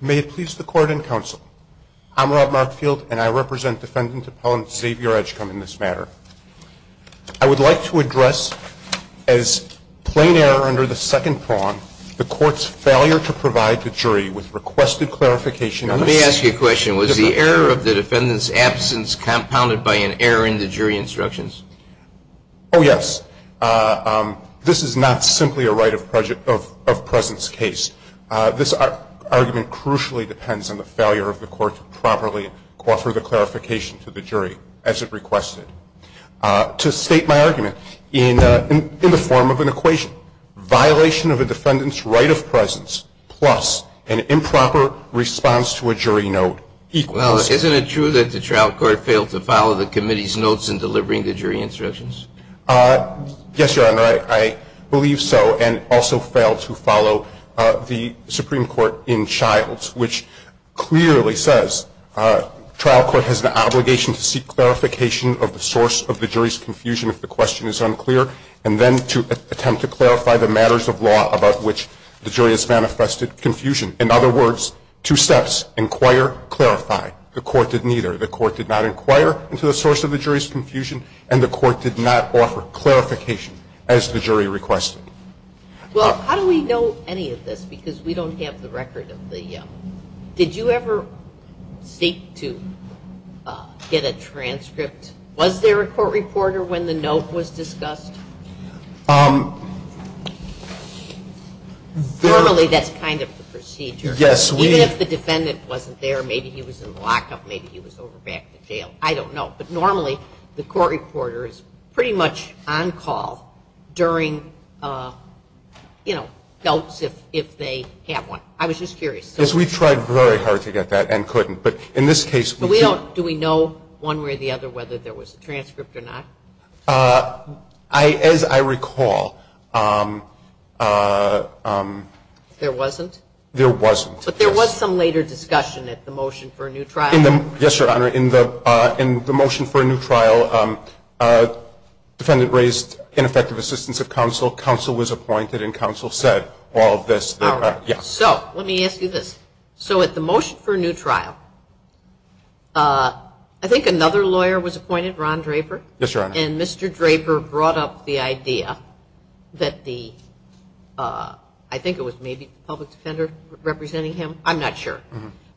May it please the Court and Counsel, I'm Rob Markfield and I represent Defendant Appellant Xavier Edgecombe in this matter. I would like to address, as plain error under the second prong, the Court's failure to provide the jury with requested clarification on this. Let me ask you a question. Was the error of the defendant's absence compounded by an error in the jury instructions? Oh, yes. This is not simply a right of presence case. This argument crucially depends on the failure of the Court to properly offer the clarification to the jury as it requested. To state my argument, in the form of an equation, violation of a defendant's right of presence plus an improper response to a jury note equals... Well, isn't it true that the trial court failed to follow the committee's notes in delivering the jury instructions? Yes, Your Honor. I believe so and also failed to follow the Supreme Court in Childs, which clearly says trial court has an obligation to seek clarification of the source of the jury's confusion if the question is unclear and then to attempt to clarify the matters of law about which the jury has manifested confusion. In other words, two steps, inquire, clarify. The Court did neither. The Court did not inquire into the source of the jury's confusion and the Court did not offer clarification as the jury requested. Well, how do we know any of this because we don't have the record of the... Did you ever seek to get a transcript? Was there a court reporter when the note was discussed? Normally, that's kind of the procedure. Yes, we... I don't know. But normally, the court reporter is pretty much on call during, you know, notes if they have one. I was just curious. Yes, we tried very hard to get that and couldn't. But in this case... Do we know one way or the other whether there was a transcript or not? As I recall... There wasn't? There wasn't. But there was some later discussion at the motion for a new trial? Yes, Your Honor. In the motion for a new trial, defendant raised ineffective assistance of counsel. Counsel was appointed and counsel said all of this. All right. So let me ask you this. So at the motion for a new trial, I think another lawyer was appointed, Ron Draper? Yes, Your Honor. And Mr. Draper brought up the idea that the... I think it was maybe public defender representing him. I'm not sure.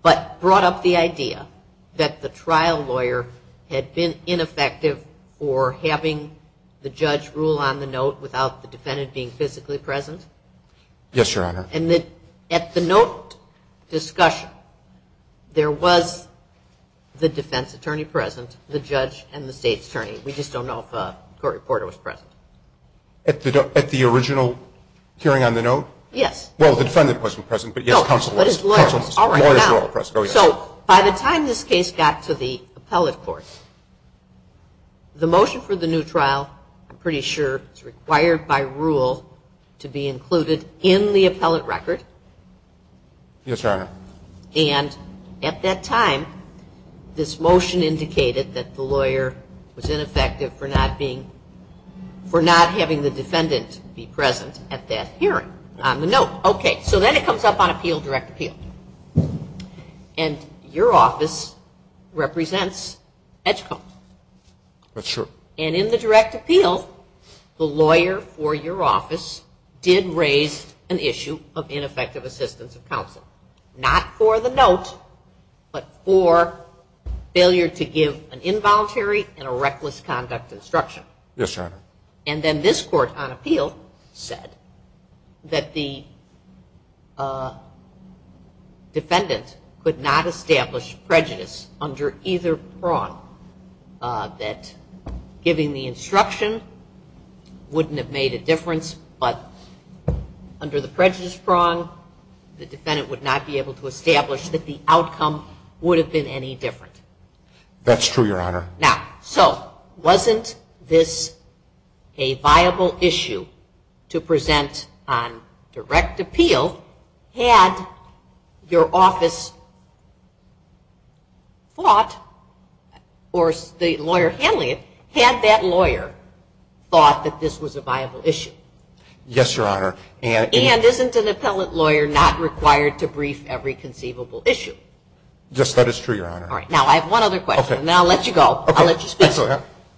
But brought up the idea that the trial lawyer had been ineffective for having the judge rule on the note without the defendant being physically present? Yes, Your Honor. And at the note discussion, there was the defense attorney present, the judge, and the state's attorney. We just don't know if the court reporter was present. At the original hearing on the note? Yes. Well, the defendant wasn't present, but, yes, counsel was. All right. So by the time this case got to the appellate court, the motion for the new trial, I'm pretty sure it's required by rule to be included in the appellate record. Yes, Your Honor. And at that time, this motion indicated that the lawyer was ineffective for not having the defendant be present at that hearing on the note. Okay. So then it comes up on appeal, direct appeal. And your office represents Edgecombe. That's true. And in the direct appeal, the lawyer for your office did raise an issue of ineffective assistance of counsel, not for the note, but for failure to give an involuntary and a reckless conduct instruction. Yes, Your Honor. And then this court, on appeal, said that the defendant could not establish prejudice under either prong, that giving the instruction wouldn't have made a difference, but under the prejudice prong, the defendant would not be able to establish that the outcome would have been any different. That's true, Your Honor. Now, so wasn't this a viable issue to present on direct appeal? Had your office thought, or the lawyer handling it, had that lawyer thought that this was a viable issue? Yes, Your Honor. And isn't an appellate lawyer not required to brief every conceivable issue? All right. Now, I have one other question, and then I'll let you go. I'll let you speak.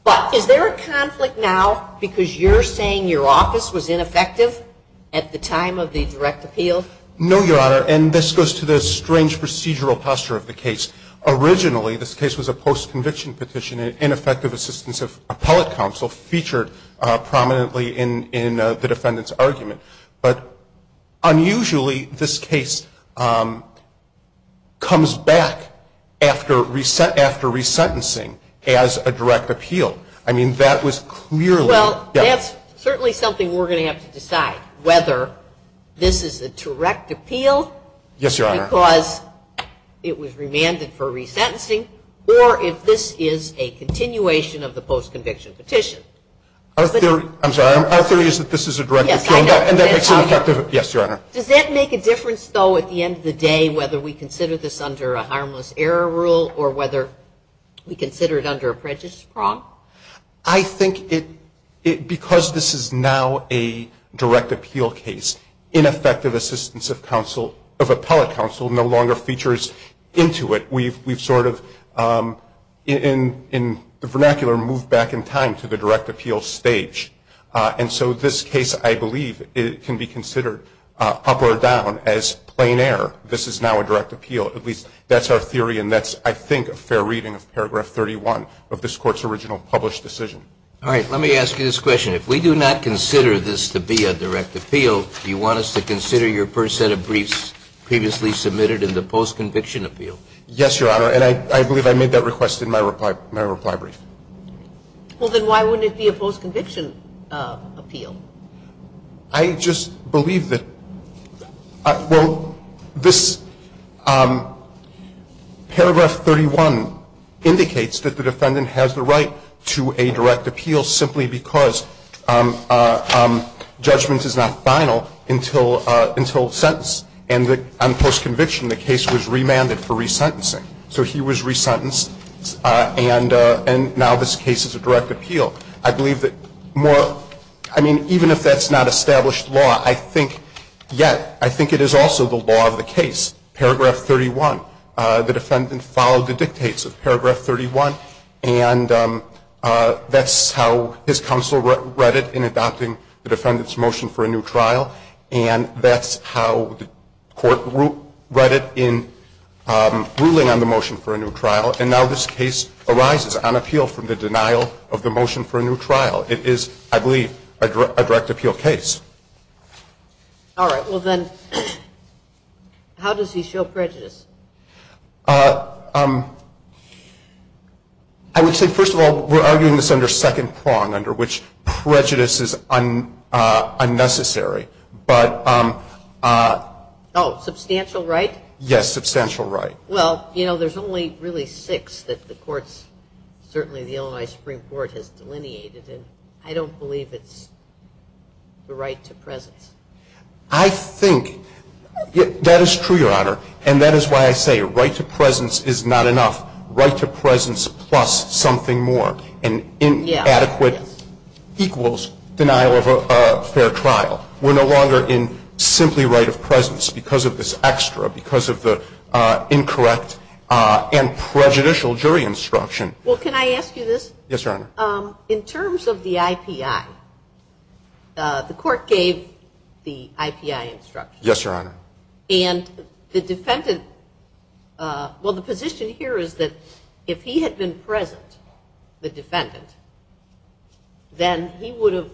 But is there a conflict now because you're saying your office was ineffective at the time of the direct appeal? No, Your Honor. And this goes to the strange procedural posture of the case. Originally, this case was a post-conviction petition, defendant's argument. But unusually, this case comes back after resentencing as a direct appeal. I mean, that was clearly the case. Well, that's certainly something we're going to have to decide, whether this is a direct appeal because it was remanded for resentencing, or if this is a continuation of the post-conviction petition. Our theory is that this is a direct appeal. Yes, Your Honor. Does that make a difference, though, at the end of the day, whether we consider this under a harmless error rule or whether we consider it under a prejudice prong? I think because this is now a direct appeal case, ineffective assistance of appellate counsel no longer features into it. We've sort of, in the vernacular, moved back in time to the direct appeal stage. And so this case, I believe, can be considered, up or down, as plain error. This is now a direct appeal. At least that's our theory, and that's, I think, a fair reading of paragraph 31 of this Court's original published decision. All right. Let me ask you this question. If we do not consider this to be a direct appeal, do you want us to consider your first set of briefs previously submitted in the post-conviction appeal? Yes, Your Honor. And I believe I made that request in my reply brief. Well, then why wouldn't it be a post-conviction appeal? I just believe that, well, this paragraph 31 indicates that the defendant has the right to a direct appeal simply because judgment is not final until sentence. And on post-conviction, the case was remanded for resentencing. So he was resentenced, and now this case is a direct appeal. I believe that more, I mean, even if that's not established law, I think yet, I think it is also the law of the case, paragraph 31. The defendant followed the dictates of paragraph 31, and that's how his counsel read it in adopting the defendant's motion for a new trial, and that's how the court read it in ruling on the motion for a new trial. And now this case arises on appeal from the denial of the motion for a new trial. It is, I believe, a direct appeal case. All right. Well, then how does he show prejudice? I would say, first of all, we're arguing this under second prong, under which prejudice is unnecessary. Oh, substantial right? Yes, substantial right. Well, you know, there's only really six that the courts, certainly the Illinois Supreme Court has delineated, and I don't believe it's the right to presence. I think that is true, Your Honor, and that is why I say right to presence is not enough. Right to presence plus something more and inadequate equals denial of a fair trial. We're no longer in simply right of presence because of this extra, because of the incorrect and prejudicial jury instruction. Well, can I ask you this? Yes, Your Honor. In terms of the IPI, the court gave the IPI instruction. Yes, Your Honor. And the defendant, well, the position here is that if he had been present, the defendant, then he would have,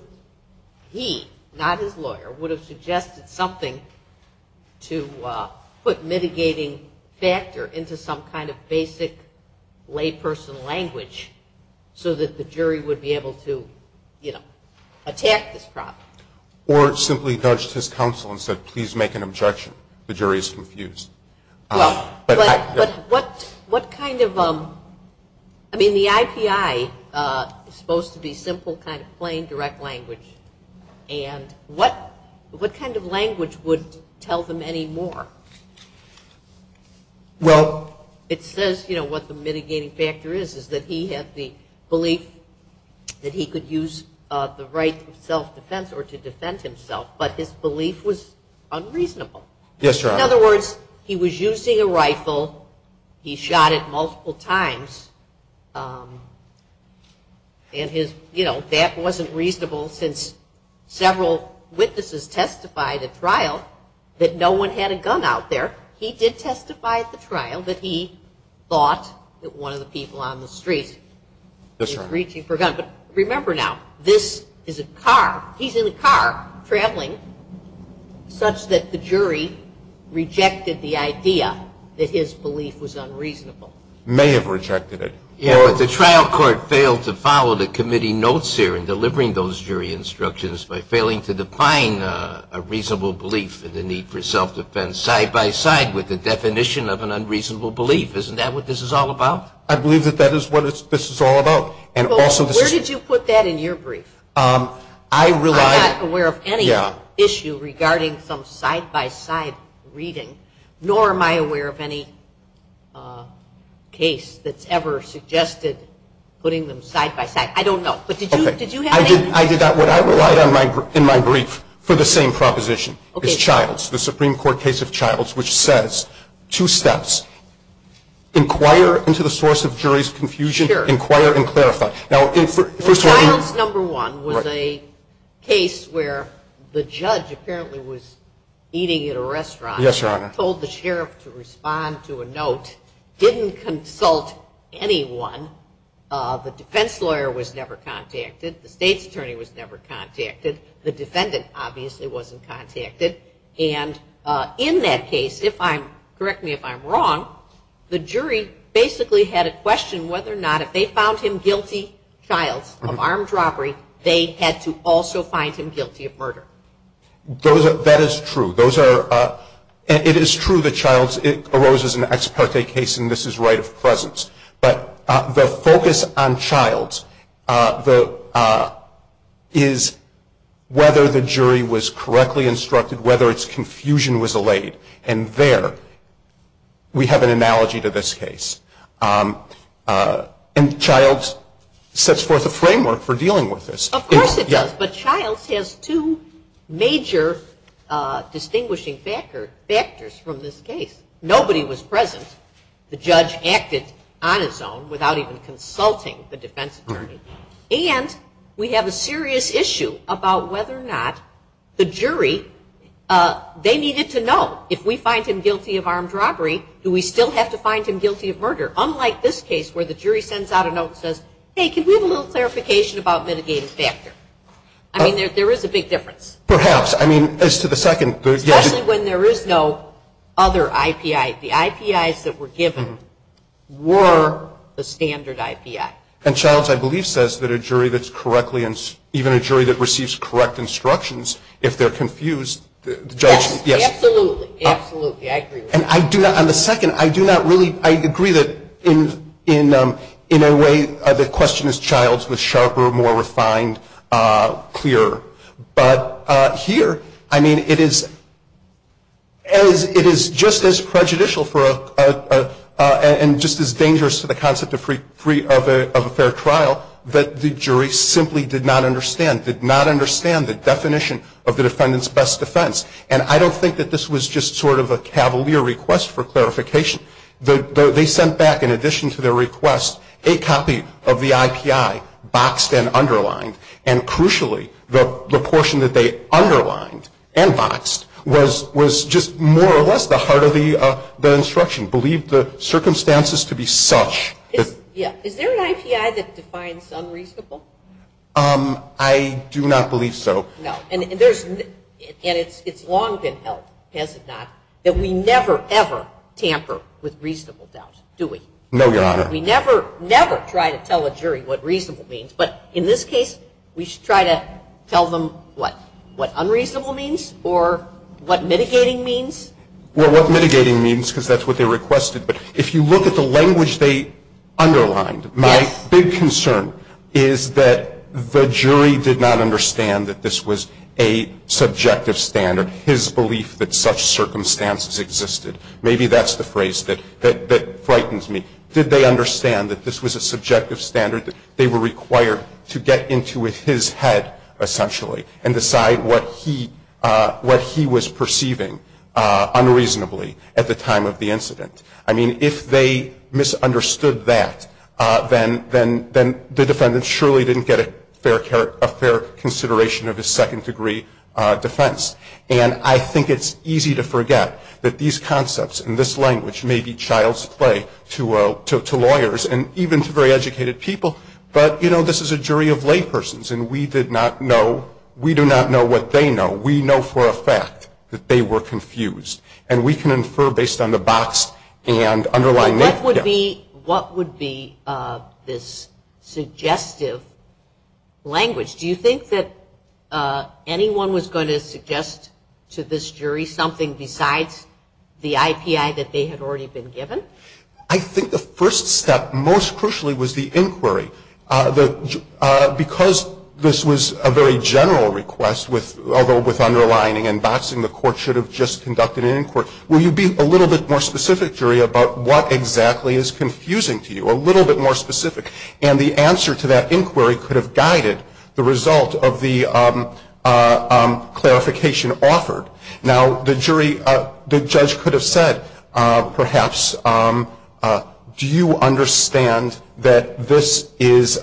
he, not his lawyer, would have suggested something to put mitigating factor into some kind of basic lay person language so that the jury would be able to, you know, attack this problem. Or simply dodged his counsel and said, please make an objection. The jury is confused. Well, but what kind of, I mean, the IPI is supposed to be simple kind of plain direct language, and what kind of language would tell them any more? Well, it says, you know, what the mitigating factor is, is that he had the belief that he could use the right self-defense or to defend himself, but his belief was unreasonable. Yes, Your Honor. In other words, he was using a rifle, he shot it multiple times, and his, you know, that wasn't reasonable since several witnesses testified at trial that no one had a gun out there. He did testify at the trial that he thought that one of the people on the street was reaching for a gun. But remember now, this is a car. He's in a car traveling such that the jury rejected the idea that his belief was unreasonable. May have rejected it. Yeah, but the trial court failed to follow the committee notes here in delivering those jury instructions by failing to define a reasonable belief and the need for self-defense side-by-side with the definition of an unreasonable belief. Isn't that what this is all about? I believe that that is what this is all about. Where did you put that in your brief? I'm not aware of any issue regarding some side-by-side reading, nor am I aware of any case that's ever suggested putting them side-by-side. I don't know. But did you have any? I did not. What I relied on in my brief for the same proposition is Childs, the Supreme Court case of Childs, which says two steps, inquire into the source of jury's confusion. Sure. Inquire and clarify. Childs, number one, was a case where the judge apparently was eating at a restaurant. Yes, Your Honor. Told the sheriff to respond to a note. Didn't consult anyone. The defense lawyer was never contacted. The state's attorney was never contacted. The defendant, obviously, wasn't contacted. And in that case, correct me if I'm wrong, the jury basically had a question whether or not if they found him guilty, Childs, of armed robbery, they had to also find him guilty of murder. That is true. It is true that Childs arose as an ex parte case, and this is right of presence. But the focus on Childs is whether the jury was correctly instructed, whether its confusion was allayed. And there we have an analogy to this case. And Childs sets forth a framework for dealing with this. Of course it does. But Childs has two major distinguishing factors from this case. Nobody was present. The judge acted on his own without even consulting the defense attorney. And we have a serious issue about whether or not the jury, they needed to know, if we find him guilty of armed robbery, do we still have to find him guilty of murder? Unlike this case where the jury sends out a note and says, hey, can we have a little clarification about mitigating factor? I mean, there is a big difference. Perhaps. I mean, as to the second. Especially when there is no other IPI. The IPIs that were given were the standard IPI. And Childs, I believe, says that a jury that's correctly, even a jury that receives correct instructions, if they're confused, the judge, yes. Absolutely. Absolutely. I agree with that. And I do not, on the second, I do not really, I agree that in a way, the question is Childs was sharper, more refined, clearer. But here, I mean, it is just as prejudicial and just as dangerous to the concept of a fair trial that the jury simply did not understand, did not understand the definition of the defendant's best defense. And I don't think that this was just sort of a cavalier request for clarification. They sent back, in addition to their request, a copy of the IPI, boxed and underlined. And crucially, the portion that they underlined and boxed was just more or less the heart of the instruction, believed the circumstances to be such. Yeah. Is there an IPI that defines unreasonable? I do not believe so. No. And it's long been held, has it not, that we never, ever tamper with reasonable doubt, do we? No, Your Honor. We never, never try to tell a jury what reasonable means. But in this case, we try to tell them what unreasonable means or what mitigating means. Well, what mitigating means, because that's what they requested. But if you look at the language they underlined, my big concern is that the jury did not understand that this was a subjective standard, his belief that such circumstances existed. Maybe that's the phrase that frightens me. Did they understand that this was a subjective standard? They were required to get into his head, essentially, and decide what he was perceiving unreasonably at the time of the incident. I mean, if they misunderstood that, then the defendant surely didn't get a fair consideration of his second-degree defense. And I think it's easy to forget that these concepts and this language may be child's play to lawyers and even to very educated people. But, you know, this is a jury of laypersons, and we did not know. We do not know what they know. We know for a fact that they were confused. And we can infer based on the box and underlying data. What would be this suggestive language? Do you think that anyone was going to suggest to this jury something besides the IPI that they had already been given? I think the first step, most crucially, was the inquiry. Because this was a very general request, although with underlining and boxing, the court should have just conducted an inquiry. Will you be a little bit more specific, jury, about what exactly is confusing to you? A little bit more specific. And the answer to that inquiry could have guided the result of the clarification offered. Now, the jury, the judge could have said, perhaps, do you understand that this is,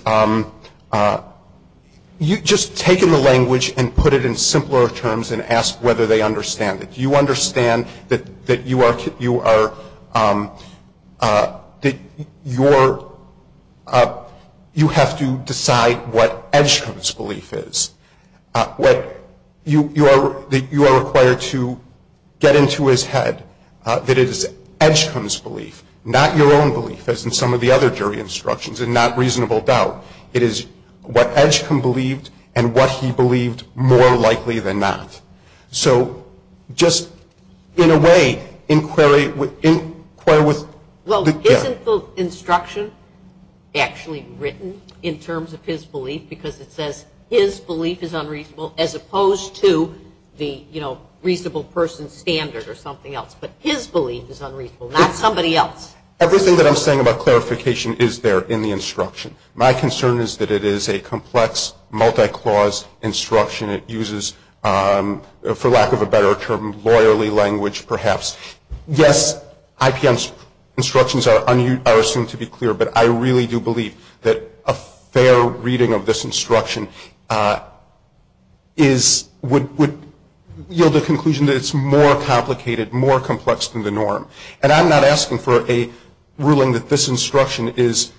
you've just taken the language and put it in simpler terms and asked whether they understand it. Do you understand that you have to decide what Edgecombe's belief is? That you are required to get into his head that it is Edgecombe's belief, not your own belief, as in some of the other jury instructions, and not reasonable doubt. It is what Edgecombe believed and what he believed more likely than not. So just, in a way, inquire with the judge. Well, isn't the instruction actually written in terms of his belief? Because it says his belief is unreasonable, as opposed to the reasonable person standard or something else. But his belief is unreasonable, not somebody else's. Everything that I'm saying about clarification is there in the instruction. My concern is that it is a complex, multi-clause instruction. It uses, for lack of a better term, lawyerly language, perhaps. Yes, IPM's instructions are assumed to be clear, but I really do believe that a fair reading of this instruction is, would yield a conclusion that it's more complicated, more complex than the norm. And I'm not asking for a ruling that this instruction is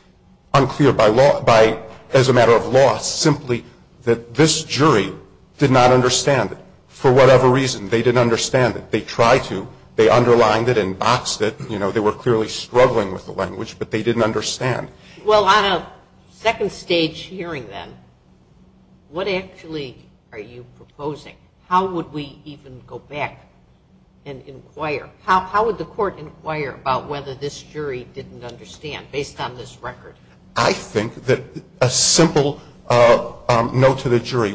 unclear by law, simply that this jury did not understand it. For whatever reason, they didn't understand it. They tried to. They underlined it and boxed it. You know, they were clearly struggling with the language, but they didn't understand. Well, on a second-stage hearing, then, what actually are you proposing? How would we even go back and inquire? How would the Court inquire about whether this jury didn't understand, based on this record? I think that a simple no to the jury.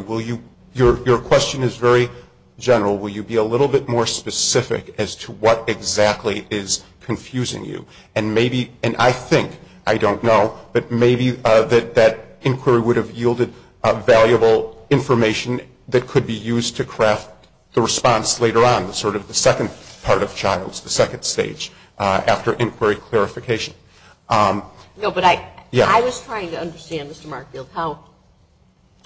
Your question is very general. Will you be a little bit more specific as to what exactly is confusing you? And maybe, and I think, I don't know, but maybe that inquiry would have yielded valuable information that could be used to craft the response later on, sort of the second part of Childs, the second stage, after inquiry clarification. No, but I was trying to understand, Mr. Markfield, how,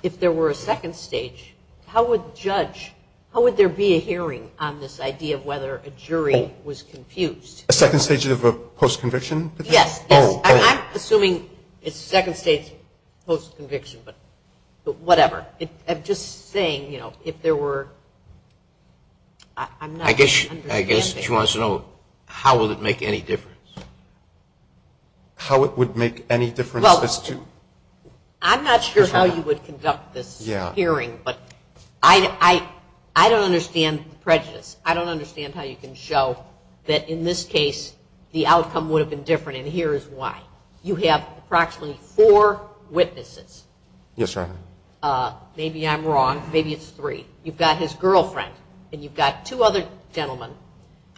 if there were a second stage, how would judge, how would there be a hearing on this idea of whether a jury was confused? A second stage of a post-conviction? Yes, yes. I'm assuming it's second stage post-conviction, but whatever. I'm just saying, you know, if there were, I'm not understanding. I guess she wants to know, how would it make any difference? How it would make any difference as to? I'm not sure how you would conduct this hearing, but I don't understand prejudice. I don't understand how you can show that, in this case, the outcome would have been different, and here is why. You have approximately four witnesses. Yes, Your Honor. Maybe I'm wrong. Maybe it's three. You've got his girlfriend, and you've got two other gentlemen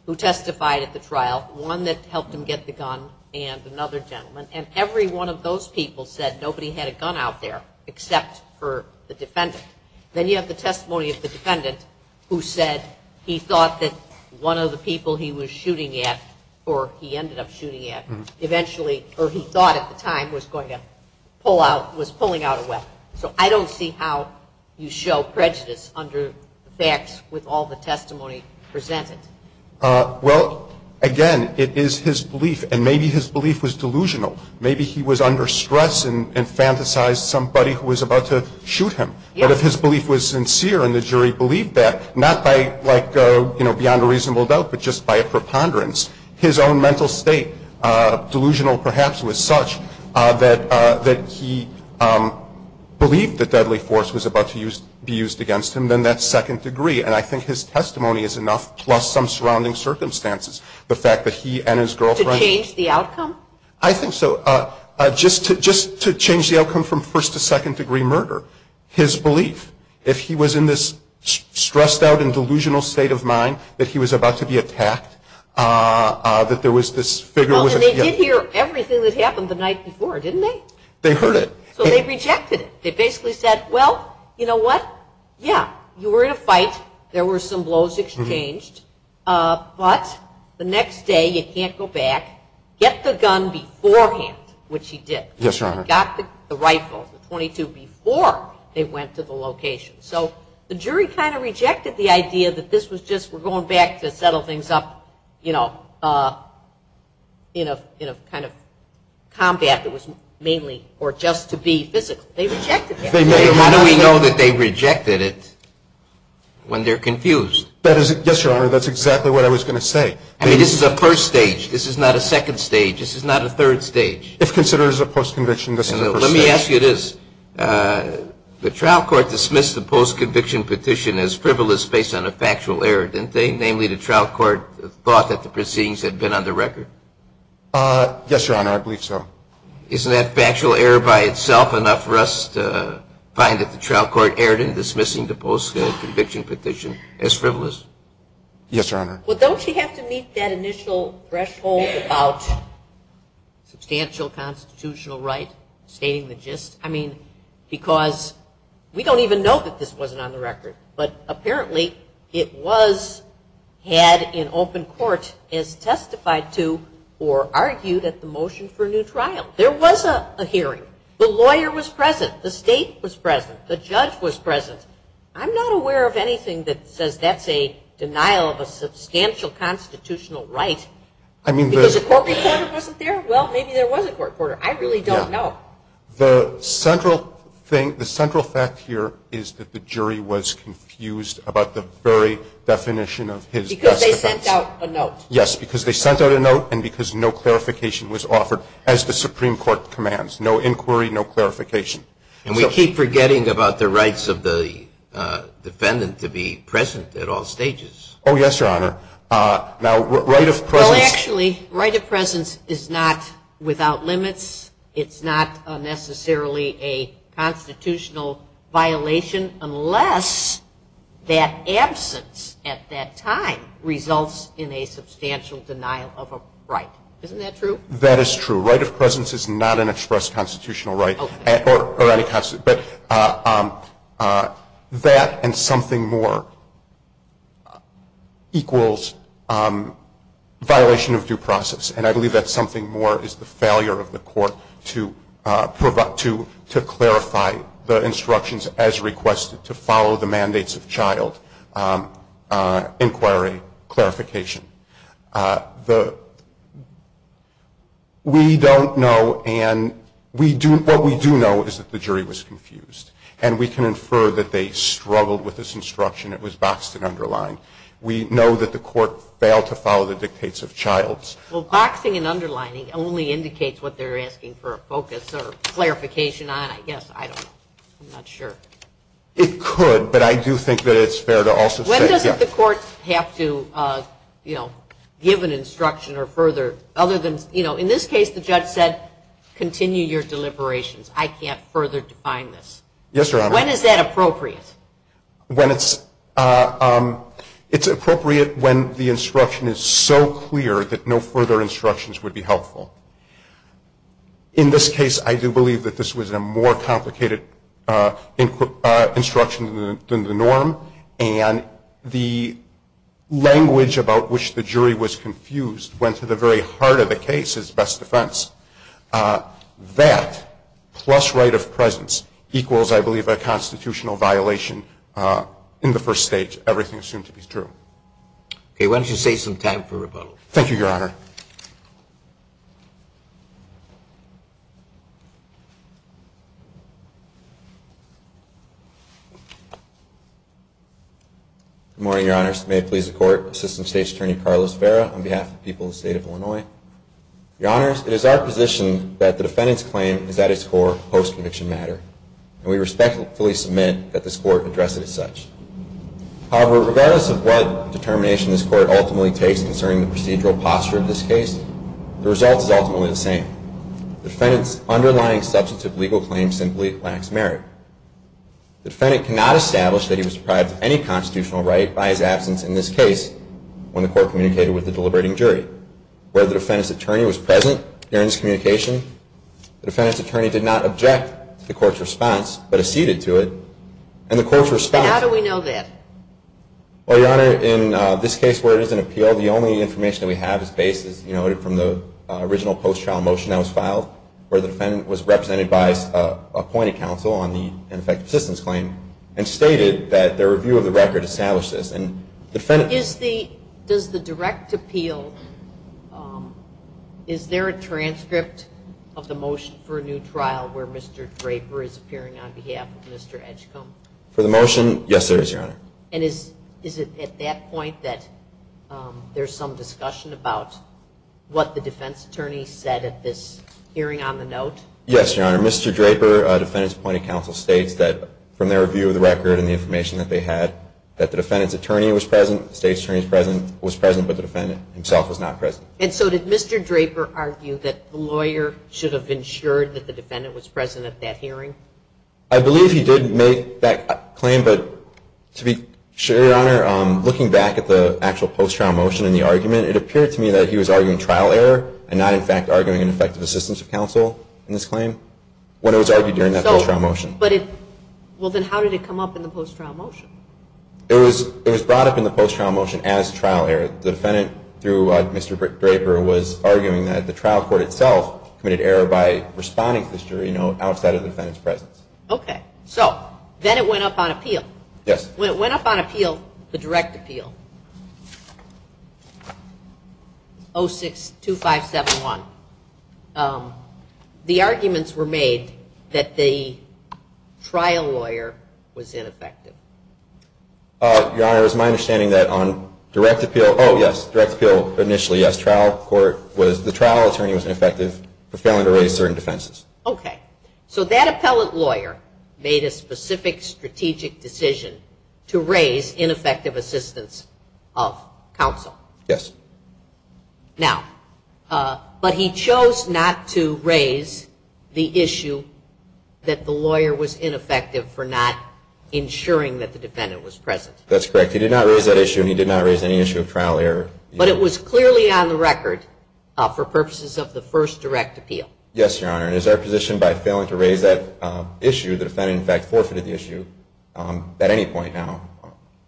who testified at the trial, one that helped him get the gun and another gentleman, and every one of those people said nobody had a gun out there except for the defendant. Then you have the testimony of the defendant who said he thought that one of the people he was shooting at, or he ended up shooting at, eventually, or he thought at the time, was going to pull out, was pulling out a weapon. So I don't see how you show prejudice under the facts with all the testimony presented. Well, again, it is his belief, and maybe his belief was delusional. Maybe he was under stress and fantasized somebody who was about to shoot him. But if his belief was sincere and the jury believed that, not by, like, beyond a reasonable doubt, but just by a preponderance, his own mental state, delusional perhaps, was such that he believed that deadly force was about to be used against him, then that's second degree. And I think his testimony is enough, plus some surrounding circumstances. The fact that he and his girlfriend. To change the outcome? I think so. Just to change the outcome from first to second degree murder. His belief. If he was in this stressed out and delusional state of mind that he was about to be attacked, that there was this figure. Well, and they did hear everything that happened the night before, didn't they? They heard it. So they rejected it. They basically said, well, you know what, yeah, you were in a fight. There were some blows exchanged. But the next day, you can't go back. Get the gun beforehand, which he did. Yes, Your Honor. Got the rifle, the .22, before they went to the location. So the jury kind of rejected the idea that this was just we're going back to settle things up in a kind of combat that was mainly or just to be physical. They rejected that. How do we know that they rejected it when they're confused? Yes, Your Honor, that's exactly what I was going to say. I mean, this is a first stage. This is not a second stage. This is not a third stage. If considered as a post-conviction, this is a first stage. Let me ask you this. The trial court dismissed the post-conviction petition as frivolous based on a factual error, didn't they? Namely, the trial court thought that the proceedings had been on the record. Yes, Your Honor. I believe so. Isn't that factual error by itself enough for us to find that the trial court erred in dismissing the post-conviction petition as frivolous? Yes, Your Honor. Well, don't you have to meet that initial threshold about substantial constitutional right stating the gist? I mean, because we don't even know that this wasn't on the record, but apparently it was had in open court as testified to or argued at the motion for a new trial. There was a hearing. The lawyer was present. The state was present. The judge was present. I'm not aware of anything that says that's a denial of a substantial constitutional right. Because a court reporter wasn't there? Well, maybe there was a court reporter. I really don't know. The central fact here is that the jury was confused about the very definition of his best defense. Because they sent out a note. Yes, because they sent out a note and because no clarification was offered as the Supreme Court commands. No inquiry, no clarification. And we keep forgetting about the rights of the defendant to be present at all stages. Oh, yes, Your Honor. Now, right of presence. Well, actually, right of presence is not without limits. It's not necessarily a constitutional violation unless that absence at that time results in a substantial denial of a right. Isn't that true? That is true. Right of presence is not an express constitutional right. But that and something more equals violation of due process. And I believe that something more is the failure of the court to clarify the instructions as requested to follow the mandates of child inquiry clarification. We don't know and what we do know is that the jury was confused. And we can infer that they struggled with this instruction. It was boxed and underlined. We know that the court failed to follow the dictates of childs. Well, boxing and underlining only indicates what they're asking for a focus or clarification on, I guess. I don't know. I'm not sure. It could, but I do think that it's fair to also say, yes. Courts have to, you know, give an instruction or further, other than, you know, in this case, the judge said, continue your deliberations. I can't further define this. Yes, Your Honor. When is that appropriate? When it's appropriate when the instruction is so clear that no further instructions would be helpful. In this case, I do believe that this was a more complicated instruction than the norm. And the language about which the jury was confused went to the very heart of the case as best defense. That plus right of presence equals, I believe, a constitutional violation in the first stage. Everything assumed to be true. Okay. Why don't you save some time for rebuttal? Thank you, Your Honor. Good morning, Your Honors. May it please the Court. Assistant State's Attorney, Carlos Vera, on behalf of the people of the State of Illinois. Your Honors, it is our position that the defendant's claim is at its core post-conviction matter. And we respectfully submit that this Court address it as such. However, regardless of what determination this Court ultimately takes concerning the procedural posture of the defendant, the result is ultimately the same. The defendant's underlying substantive legal claim simply lacks merit. The defendant cannot establish that he was deprived of any constitutional right by his absence in this case when the Court communicated with the deliberating jury. Whether the defendant's attorney was present during this communication, the defendant's attorney did not object to the Court's response, but acceded to it. And the Court's response- And how do we know that? Well, Your Honor, in this case where it is an appeal, the only information that we have is basis noted from the original post-trial motion that was filed where the defendant was represented by his appointed counsel on the ineffective assistance claim and stated that their review of the record established this. And the defendant- Does the direct appeal, is there a transcript of the motion for a new trial where Mr. Draper is appearing on behalf of Mr. Edgecomb? For the motion, yes, there is, Your Honor. And is it at that point that there's some discussion about what the defense attorney said at this hearing on the note? Yes, Your Honor. Mr. Draper, defendant's appointed counsel, states that from their review of the record and the information that they had that the defendant's attorney was present, the state's attorney was present, but the defendant himself was not present. And so did Mr. Draper argue that the lawyer should have ensured that the defendant was present at that hearing? I believe he did make that claim, but to be sure, Your Honor, looking back at the actual post-trial motion and the argument, it appeared to me that he was arguing trial error and not, in fact, arguing ineffective assistance of counsel in this claim when it was argued during that post-trial motion. Well, then how did it come up in the post-trial motion? It was brought up in the post-trial motion as trial error. The defendant, through Mr. Draper, was arguing that the trial court itself committed error by responding to the jury note and now it's out of the defendant's presence. Okay. So then it went up on appeal. Yes. When it went up on appeal, the direct appeal, 062571, the arguments were made that the trial lawyer was ineffective. Your Honor, it was my understanding that on direct appeal, oh, yes, direct appeal initially, yes, trial court was, the trial attorney was ineffective for failing to raise certain defenses. Okay. So that appellate lawyer made a specific strategic decision to raise ineffective assistance of counsel. Yes. Now, but he chose not to raise the issue that the lawyer was ineffective for not ensuring that the defendant was present. That's correct. He did not raise that issue and he did not raise any issue of trial error. But it was clearly on the record for purposes of the first direct appeal. Yes, Your Honor. And is there a position by failing to raise that issue, the defendant in fact forfeited the issue at any point now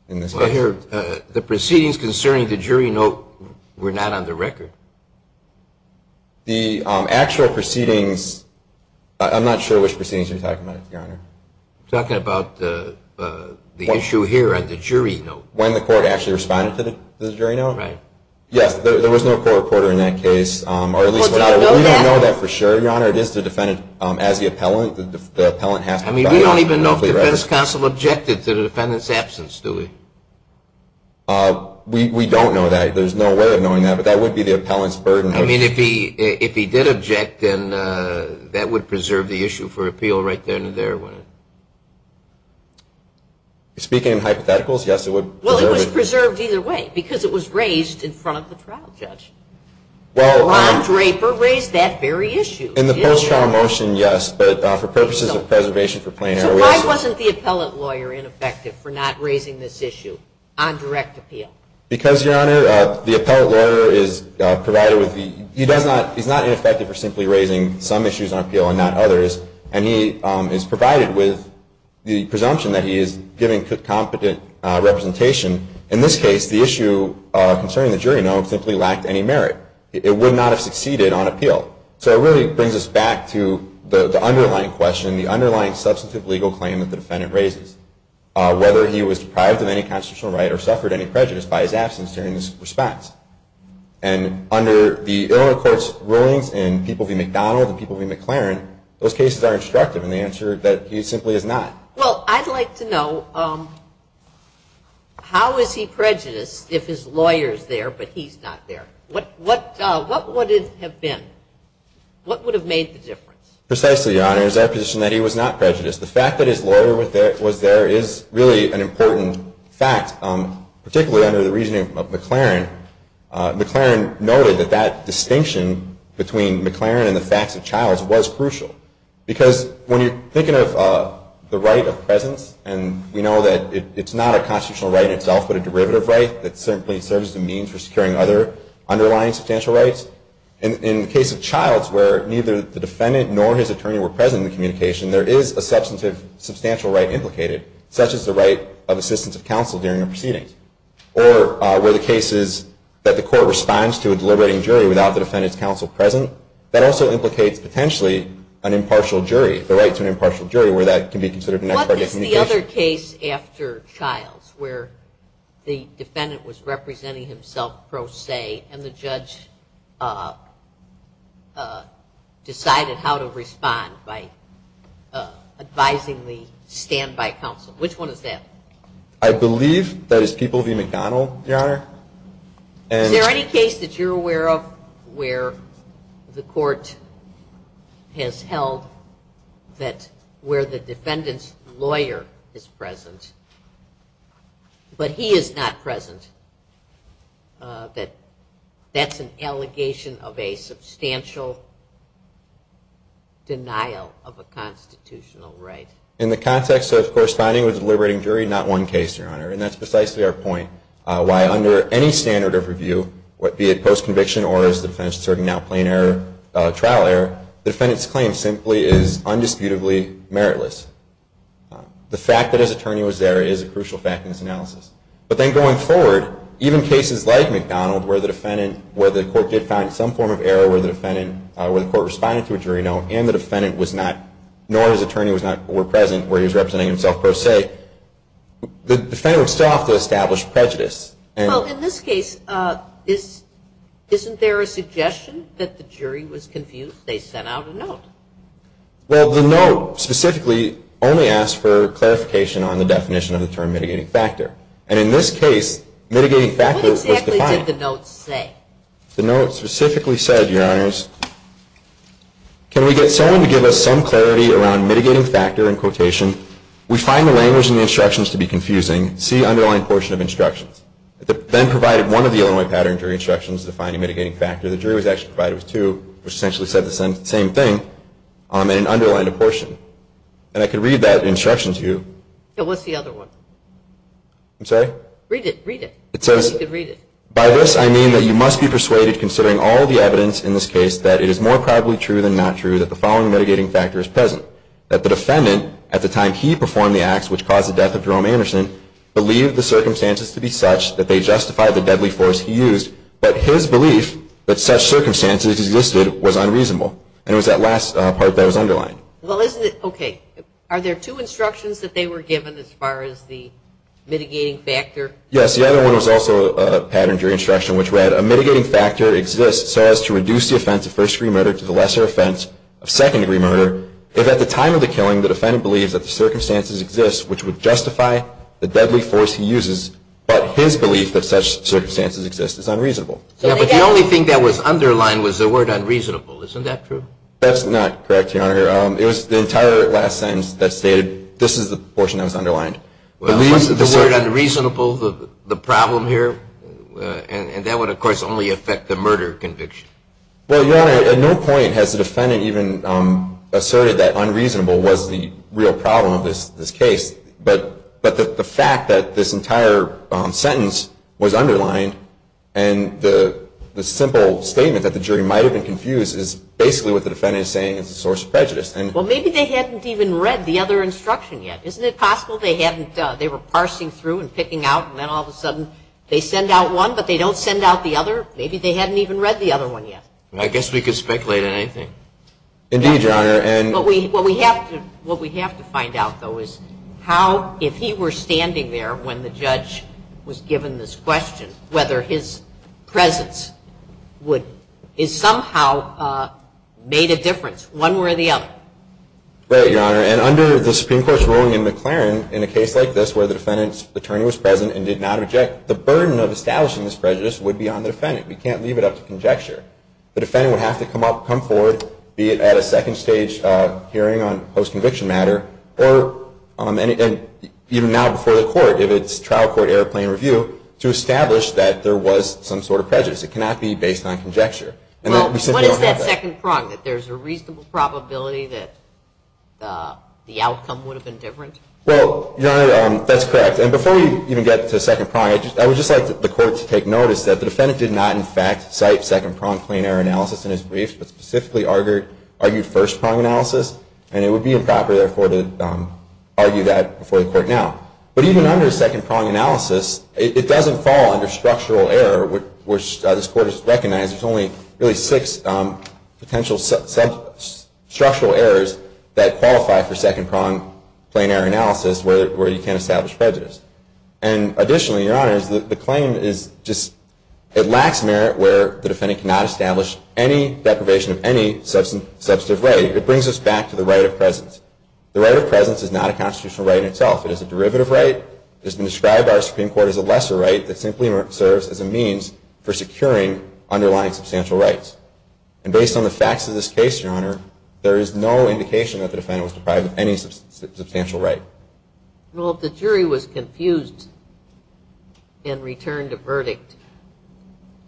in this case? Well, here, the proceedings concerning the jury note were not on the record. The actual proceedings, I'm not sure which proceedings you're talking about, Your Honor. I'm talking about the issue here on the jury note. When the court actually responded to the jury note? Right. Yes, there was no court reporter in that case, or at least without it. I'm not sure, Your Honor. It is the defendant. As the appellant, the appellant has to have a clear record. I mean, we don't even know if the defense counsel objected to the defendant's absence, do we? We don't know that. There's no way of knowing that, but that would be the appellant's burden. I mean, if he did object, then that would preserve the issue for appeal right there and there. Speaking of hypotheticals, yes, it would preserve it. Well, it was preserved either way because it was raised in front of the trial judge. Ron Draper raised that very issue. In the post-trial motion, yes. But for purposes of preservation for plain error, we assume. So why wasn't the appellant lawyer ineffective for not raising this issue on direct appeal? Because, Your Honor, the appellant lawyer is provided with the – he's not ineffective for simply raising some issues on appeal and not others, and he is provided with the presumption that he is giving competent representation. In this case, the issue concerning the jury note simply lacked any merit. It would not have succeeded on appeal. So it really brings us back to the underlying question, the underlying substantive legal claim that the defendant raises, whether he was deprived of any constitutional right or suffered any prejudice by his absence during this response. And under the Illinois court's rulings and people v. McDonald and people v. McLaren, those cases are instructive in the answer that he simply is not. Well, I'd like to know, how is he prejudiced if his lawyer is there but he's not there? What would it have been? What would have made the difference? Precisely, Your Honor. It is our position that he was not prejudiced. The fact that his lawyer was there is really an important fact, particularly under the reasoning of McLaren. McLaren noted that that distinction between McLaren and the facts of Childs was crucial. Because when you're thinking of the right of presence, and we know that it's not a constitutional right itself but a derivative right that simply serves as a means for securing other underlying substantial rights, in the case of Childs where neither the defendant nor his attorney were present in the communication, there is a substantive, substantial right implicated, such as the right of assistance of counsel during a proceeding. Or where the case is that the court responds to a deliberating jury without the defendant's counsel present, that also implicates potentially an impartial jury, the right to an impartial jury where that can be considered an ex parte communication. What is the other case after Childs where the defendant was representing himself pro se and the judge decided how to respond by advising the standby counsel? Which one is that? I believe that is People v. McDonnell, Your Honor. Is there any case that you're aware of where the court has held that where the defendant's lawyer is present but he is not present, that that's an allegation of a substantial denial of a constitutional right? In the context of corresponding with a deliberating jury, not one case, Your Honor. And that's precisely our point. Why under any standard of review, be it post-conviction or as the defendant is now serving plain trial error, the defendant's claim simply is undisputedly meritless. The fact that his attorney was there is a crucial fact in this analysis. But then going forward, even cases like McDonnell where the court did find some form of error where the court responded to a jury note and the defendant was not, nor his attorney were present where he was representing himself pro se, the defendant would still have to establish prejudice. Well, in this case, isn't there a suggestion that the jury was confused? They sent out a note. Well, the note specifically only asked for clarification on the definition of the term mitigating factor. And in this case, mitigating factor was defined. What exactly did the note say? The note specifically said, Your Honors, can we get someone to give us some clarity around mitigating factor in quotation? We find the language in the instructions to be confusing. See underlying portion of instructions. It then provided one of the Illinois pattern jury instructions defining mitigating factor. The jury was actually provided with two, which essentially said the same thing in an underlying portion. And I can read that instruction to you. Yeah, what's the other one? I'm sorry? Read it. Read it. It says, By this I mean that you must be persuaded, considering all the evidence in this case, that it is more probably true than not true that the following mitigating factor is present, that the defendant, at the time he performed the acts which caused the death of Jerome Anderson, believed the circumstances to be such that they justified the deadly force he used, but his belief that such circumstances existed was unreasonable. And it was that last part that was underlined. Well, isn't it? Okay. Are there two instructions that they were given as far as the mitigating factor? Yes. The other one was also a pattern jury instruction which read, A mitigating factor exists so as to reduce the offense of first degree murder to the lesser offense of second degree murder if at the time of the killing the defendant believes that the circumstances exist which would justify the deadly force he uses, but his belief that such circumstances exist is unreasonable. Yeah, but the only thing that was underlined was the word unreasonable. Isn't that true? That's not correct, Your Honor. It was the entire last sentence that stated this is the portion that was underlined. The word unreasonable, the problem here, and that would, of course, only affect the murder conviction. Well, Your Honor, at no point has the defendant even asserted that unreasonable was the real problem of this case. But the fact that this entire sentence was underlined and the simple statement that the jury might have been confused is basically what the defendant is saying is a source of prejudice. Well, maybe they hadn't even read the other instruction yet. Isn't it possible they were parsing through and picking out and then all of a sudden they send out one but they don't send out the other? Maybe they hadn't even read the other one yet. I guess we could speculate on anything. Indeed, Your Honor. What we have to find out, though, is how, if he were standing there when the judge was given this question, whether his presence somehow made a difference one way or the other. Right, Your Honor. And under the Supreme Court's ruling in McLaren, in a case like this where the defendant's attorney was present and did not object, the burden of establishing this prejudice would be on the defendant. We can't leave it up to conjecture. The defendant would have to come up, come forward, be it at a second stage hearing on post-conviction matter or even now before the court if it's trial court airplane review, to establish that there was some sort of prejudice. It cannot be based on conjecture. Well, what is that second prong, that there's a reasonable probability that the outcome would have been different? Well, Your Honor, that's correct. And before we even get to second prong, I would just like the court to take notice that the defendant did not, in fact, cite second prong plain error analysis in his brief, but specifically argued first prong analysis. And it would be improper, therefore, to argue that before the court now. But even under second prong analysis, it doesn't fall under structural error, which this Court has recognized. There's only really six potential structural errors that qualify for second prong plain error analysis where you can't establish prejudice. And additionally, Your Honor, the claim is just it lacks merit where the defendant cannot establish any deprivation of any substantive right. It brings us back to the right of presence. The right of presence is not a constitutional right in itself. It is a derivative right. It has been described by our Supreme Court as a lesser right that simply serves as a means for securing underlying substantial rights. And based on the facts of this case, Your Honor, there is no indication that the defendant was deprived of any substantial right. Well, if the jury was confused and returned a verdict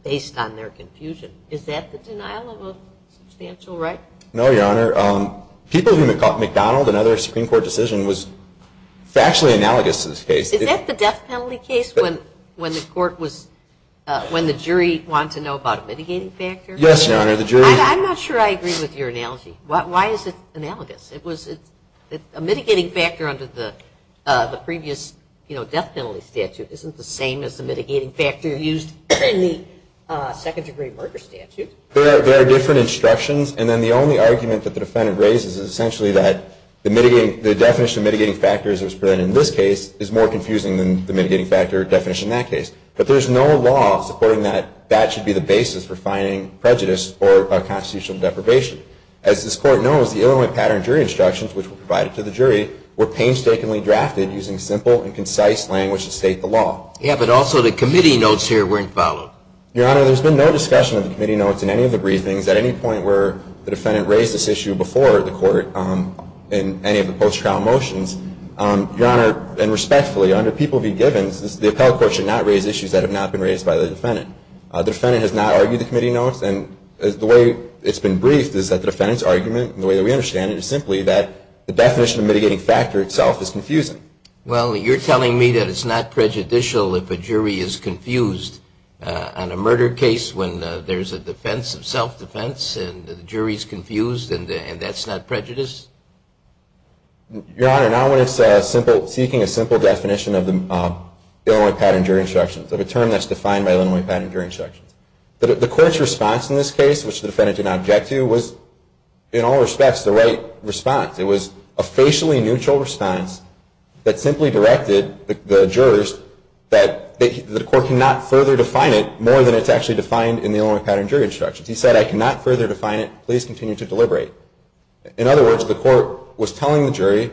based on their confusion, is that the denial of a substantial right? No, Your Honor. People who have caught McDonald and other Supreme Court decision was factually analogous to this case. Is that the death penalty case when the court was – when the jury wanted to know about a mitigating factor? Yes, Your Honor. I'm not sure I agree with your analogy. Why is it analogous? A mitigating factor under the previous death penalty statute isn't the same as the mitigating factor used in the second-degree murder statute. There are different instructions, and then the only argument that the defendant raises is essentially that the definition of mitigating factors that was presented in this case is more confusing than the mitigating factor definition in that case. But there's no law supporting that that should be the basis for finding prejudice or constitutional deprivation. As this Court knows, the Illinois pattern jury instructions, which were provided to the jury, were painstakingly drafted using simple and concise language to state the law. Yeah, but also the committee notes here weren't followed. Your Honor, there's been no discussion of the committee notes in any of the briefings at any point where the defendant raised this issue before the court in any of the post-trial motions. Your Honor, and respectfully, under P.V. Givens, the appellate court should not raise issues that have not been raised by the defendant. The defendant has not argued the committee notes, and the way it's been briefed is that the defendant's argument, and the way that we understand it, is simply that the definition of mitigating factor itself is confusing. Well, you're telling me that it's not prejudicial if a jury is confused on a murder case when there's a defense of self-defense, and the jury's confused, and that's not prejudiced? Your Honor, not when it's seeking a simple definition of the Illinois pattern jury instructions, of a term that's defined by Illinois pattern jury instructions. The court's response in this case, which the defendant did not object to, was in all respects the right response. It was a facially neutral response that simply directed the jurors that the court cannot further define it more than it's actually defined in the Illinois pattern jury instructions. He said, I cannot further define it. Please continue to deliberate. In other words, the court was telling the jury,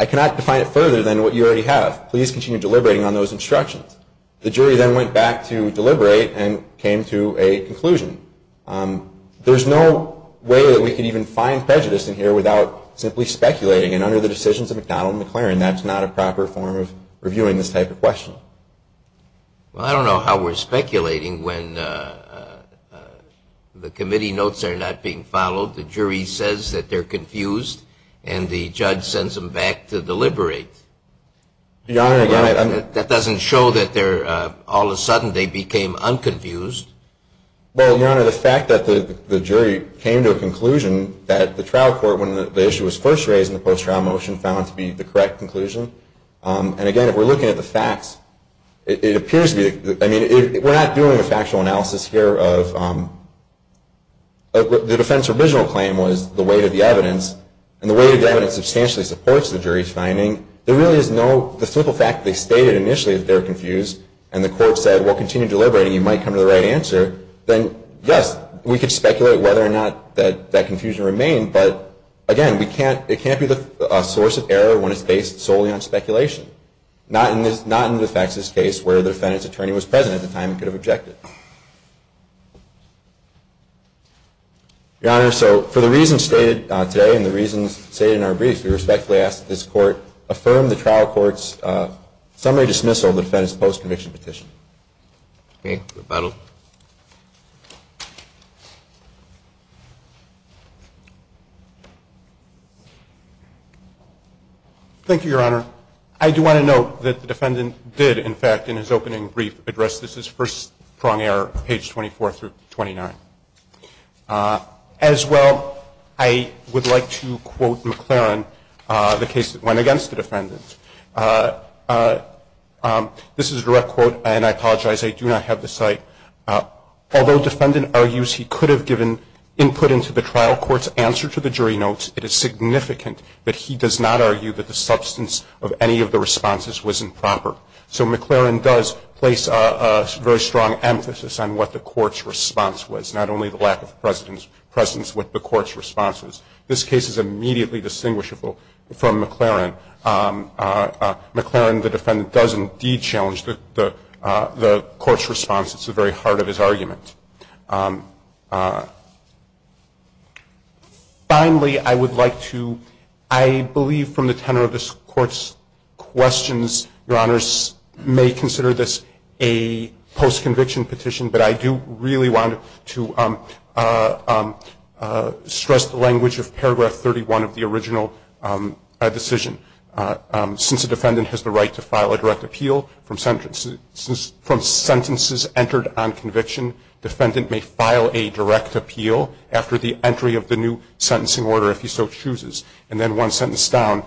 I cannot define it further than what you already have. Please continue deliberating on those instructions. The jury then went back to deliberate and came to a conclusion. There's no way that we can even find prejudice in here without simply speculating, and under the decisions of McDonnell and McLaren, that's not a proper form of reviewing this type of question. Well, I don't know how we're speculating when the committee notes are not being followed, the jury says that they're confused, and the judge sends them back to deliberate. Your Honor, that doesn't show that all of a sudden they became unconfused. Well, Your Honor, the fact that the jury came to a conclusion that the trial court, when the issue was first raised in the post-trial motion, found to be the correct conclusion, and again, if we're looking at the facts, it appears to be, I mean, we're not doing a factual analysis here of the defense original claim was the weight of the evidence, and the weight of the evidence substantially supports the jury's finding, there really is no, the simple fact that they stated initially that they were confused, and the court said, well, continue deliberating, you might come to the right answer, then yes, we could speculate whether or not that confusion remained, but again, it can't be a source of error when it's based solely on speculation, not in the facts of this case where the defendant's attorney was present at the time and could have objected. Your Honor, so for the reasons stated today and the reasons stated in our brief, we respectfully ask that this court affirm the trial court's summary dismissal of the defendant's post-conviction petition. Okay. Rebuttal. Thank you, Your Honor. I do want to note that the defendant did, in fact, in his opening brief, address this as first prong error, page 24 through 29. As well, I would like to quote McLaren, the case that went against the defendant. This is a direct quote, and I apologize, I do not have the site. Although defendant argues he could have given input into the trial court's answer to the jury notes, it is significant that he does not argue that the substance of any of the responses was improper. So McLaren does place a very strong emphasis on what the court's response was, not only the lack of presence with the court's responses. This case is immediately distinguishable from McLaren. McLaren, the defendant, does indeed challenge the court's response. It's the very heart of his argument. Finally, I would like to, I believe from the tenor of this court's questions, Your Honors, may consider this a post-conviction petition, but I do really want to stress the language of paragraph 31 of the original decision. Since a defendant has the right to file a direct appeal from sentences entered on conviction, defendant may file a direct appeal after the entry of the new sentencing order, if he so chooses. And then one sentence down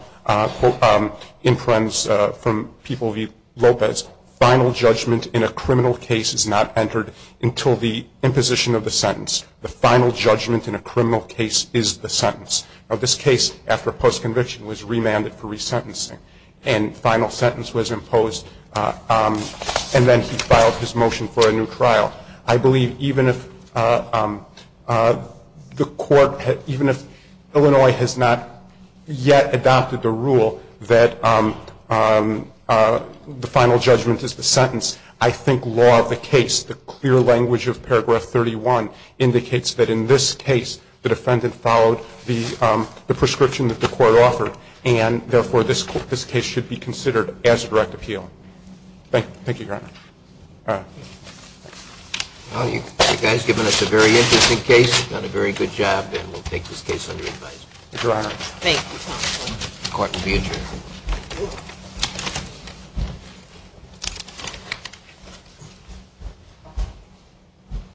imprints from People v. Lopez, final judgment in a criminal case is not entered until the imposition of the sentence. The final judgment in a criminal case is the sentence. Now, this case, after post-conviction, was remanded for resentencing, and final sentence was imposed, and then he filed his motion for a new trial. I believe even if Illinois has not yet adopted the rule that the final judgment is the sentence, I think law of the case, the clear language of paragraph 31, indicates that in this case the defendant followed the prescription that the court offered, and therefore this case should be considered as direct appeal. Thank you, Your Honor. All right. Well, you guys have given us a very interesting case, done a very good job, and we'll take this case under advisory. Thank you, Your Honor. Thank you, counsel. The court will be adjourned.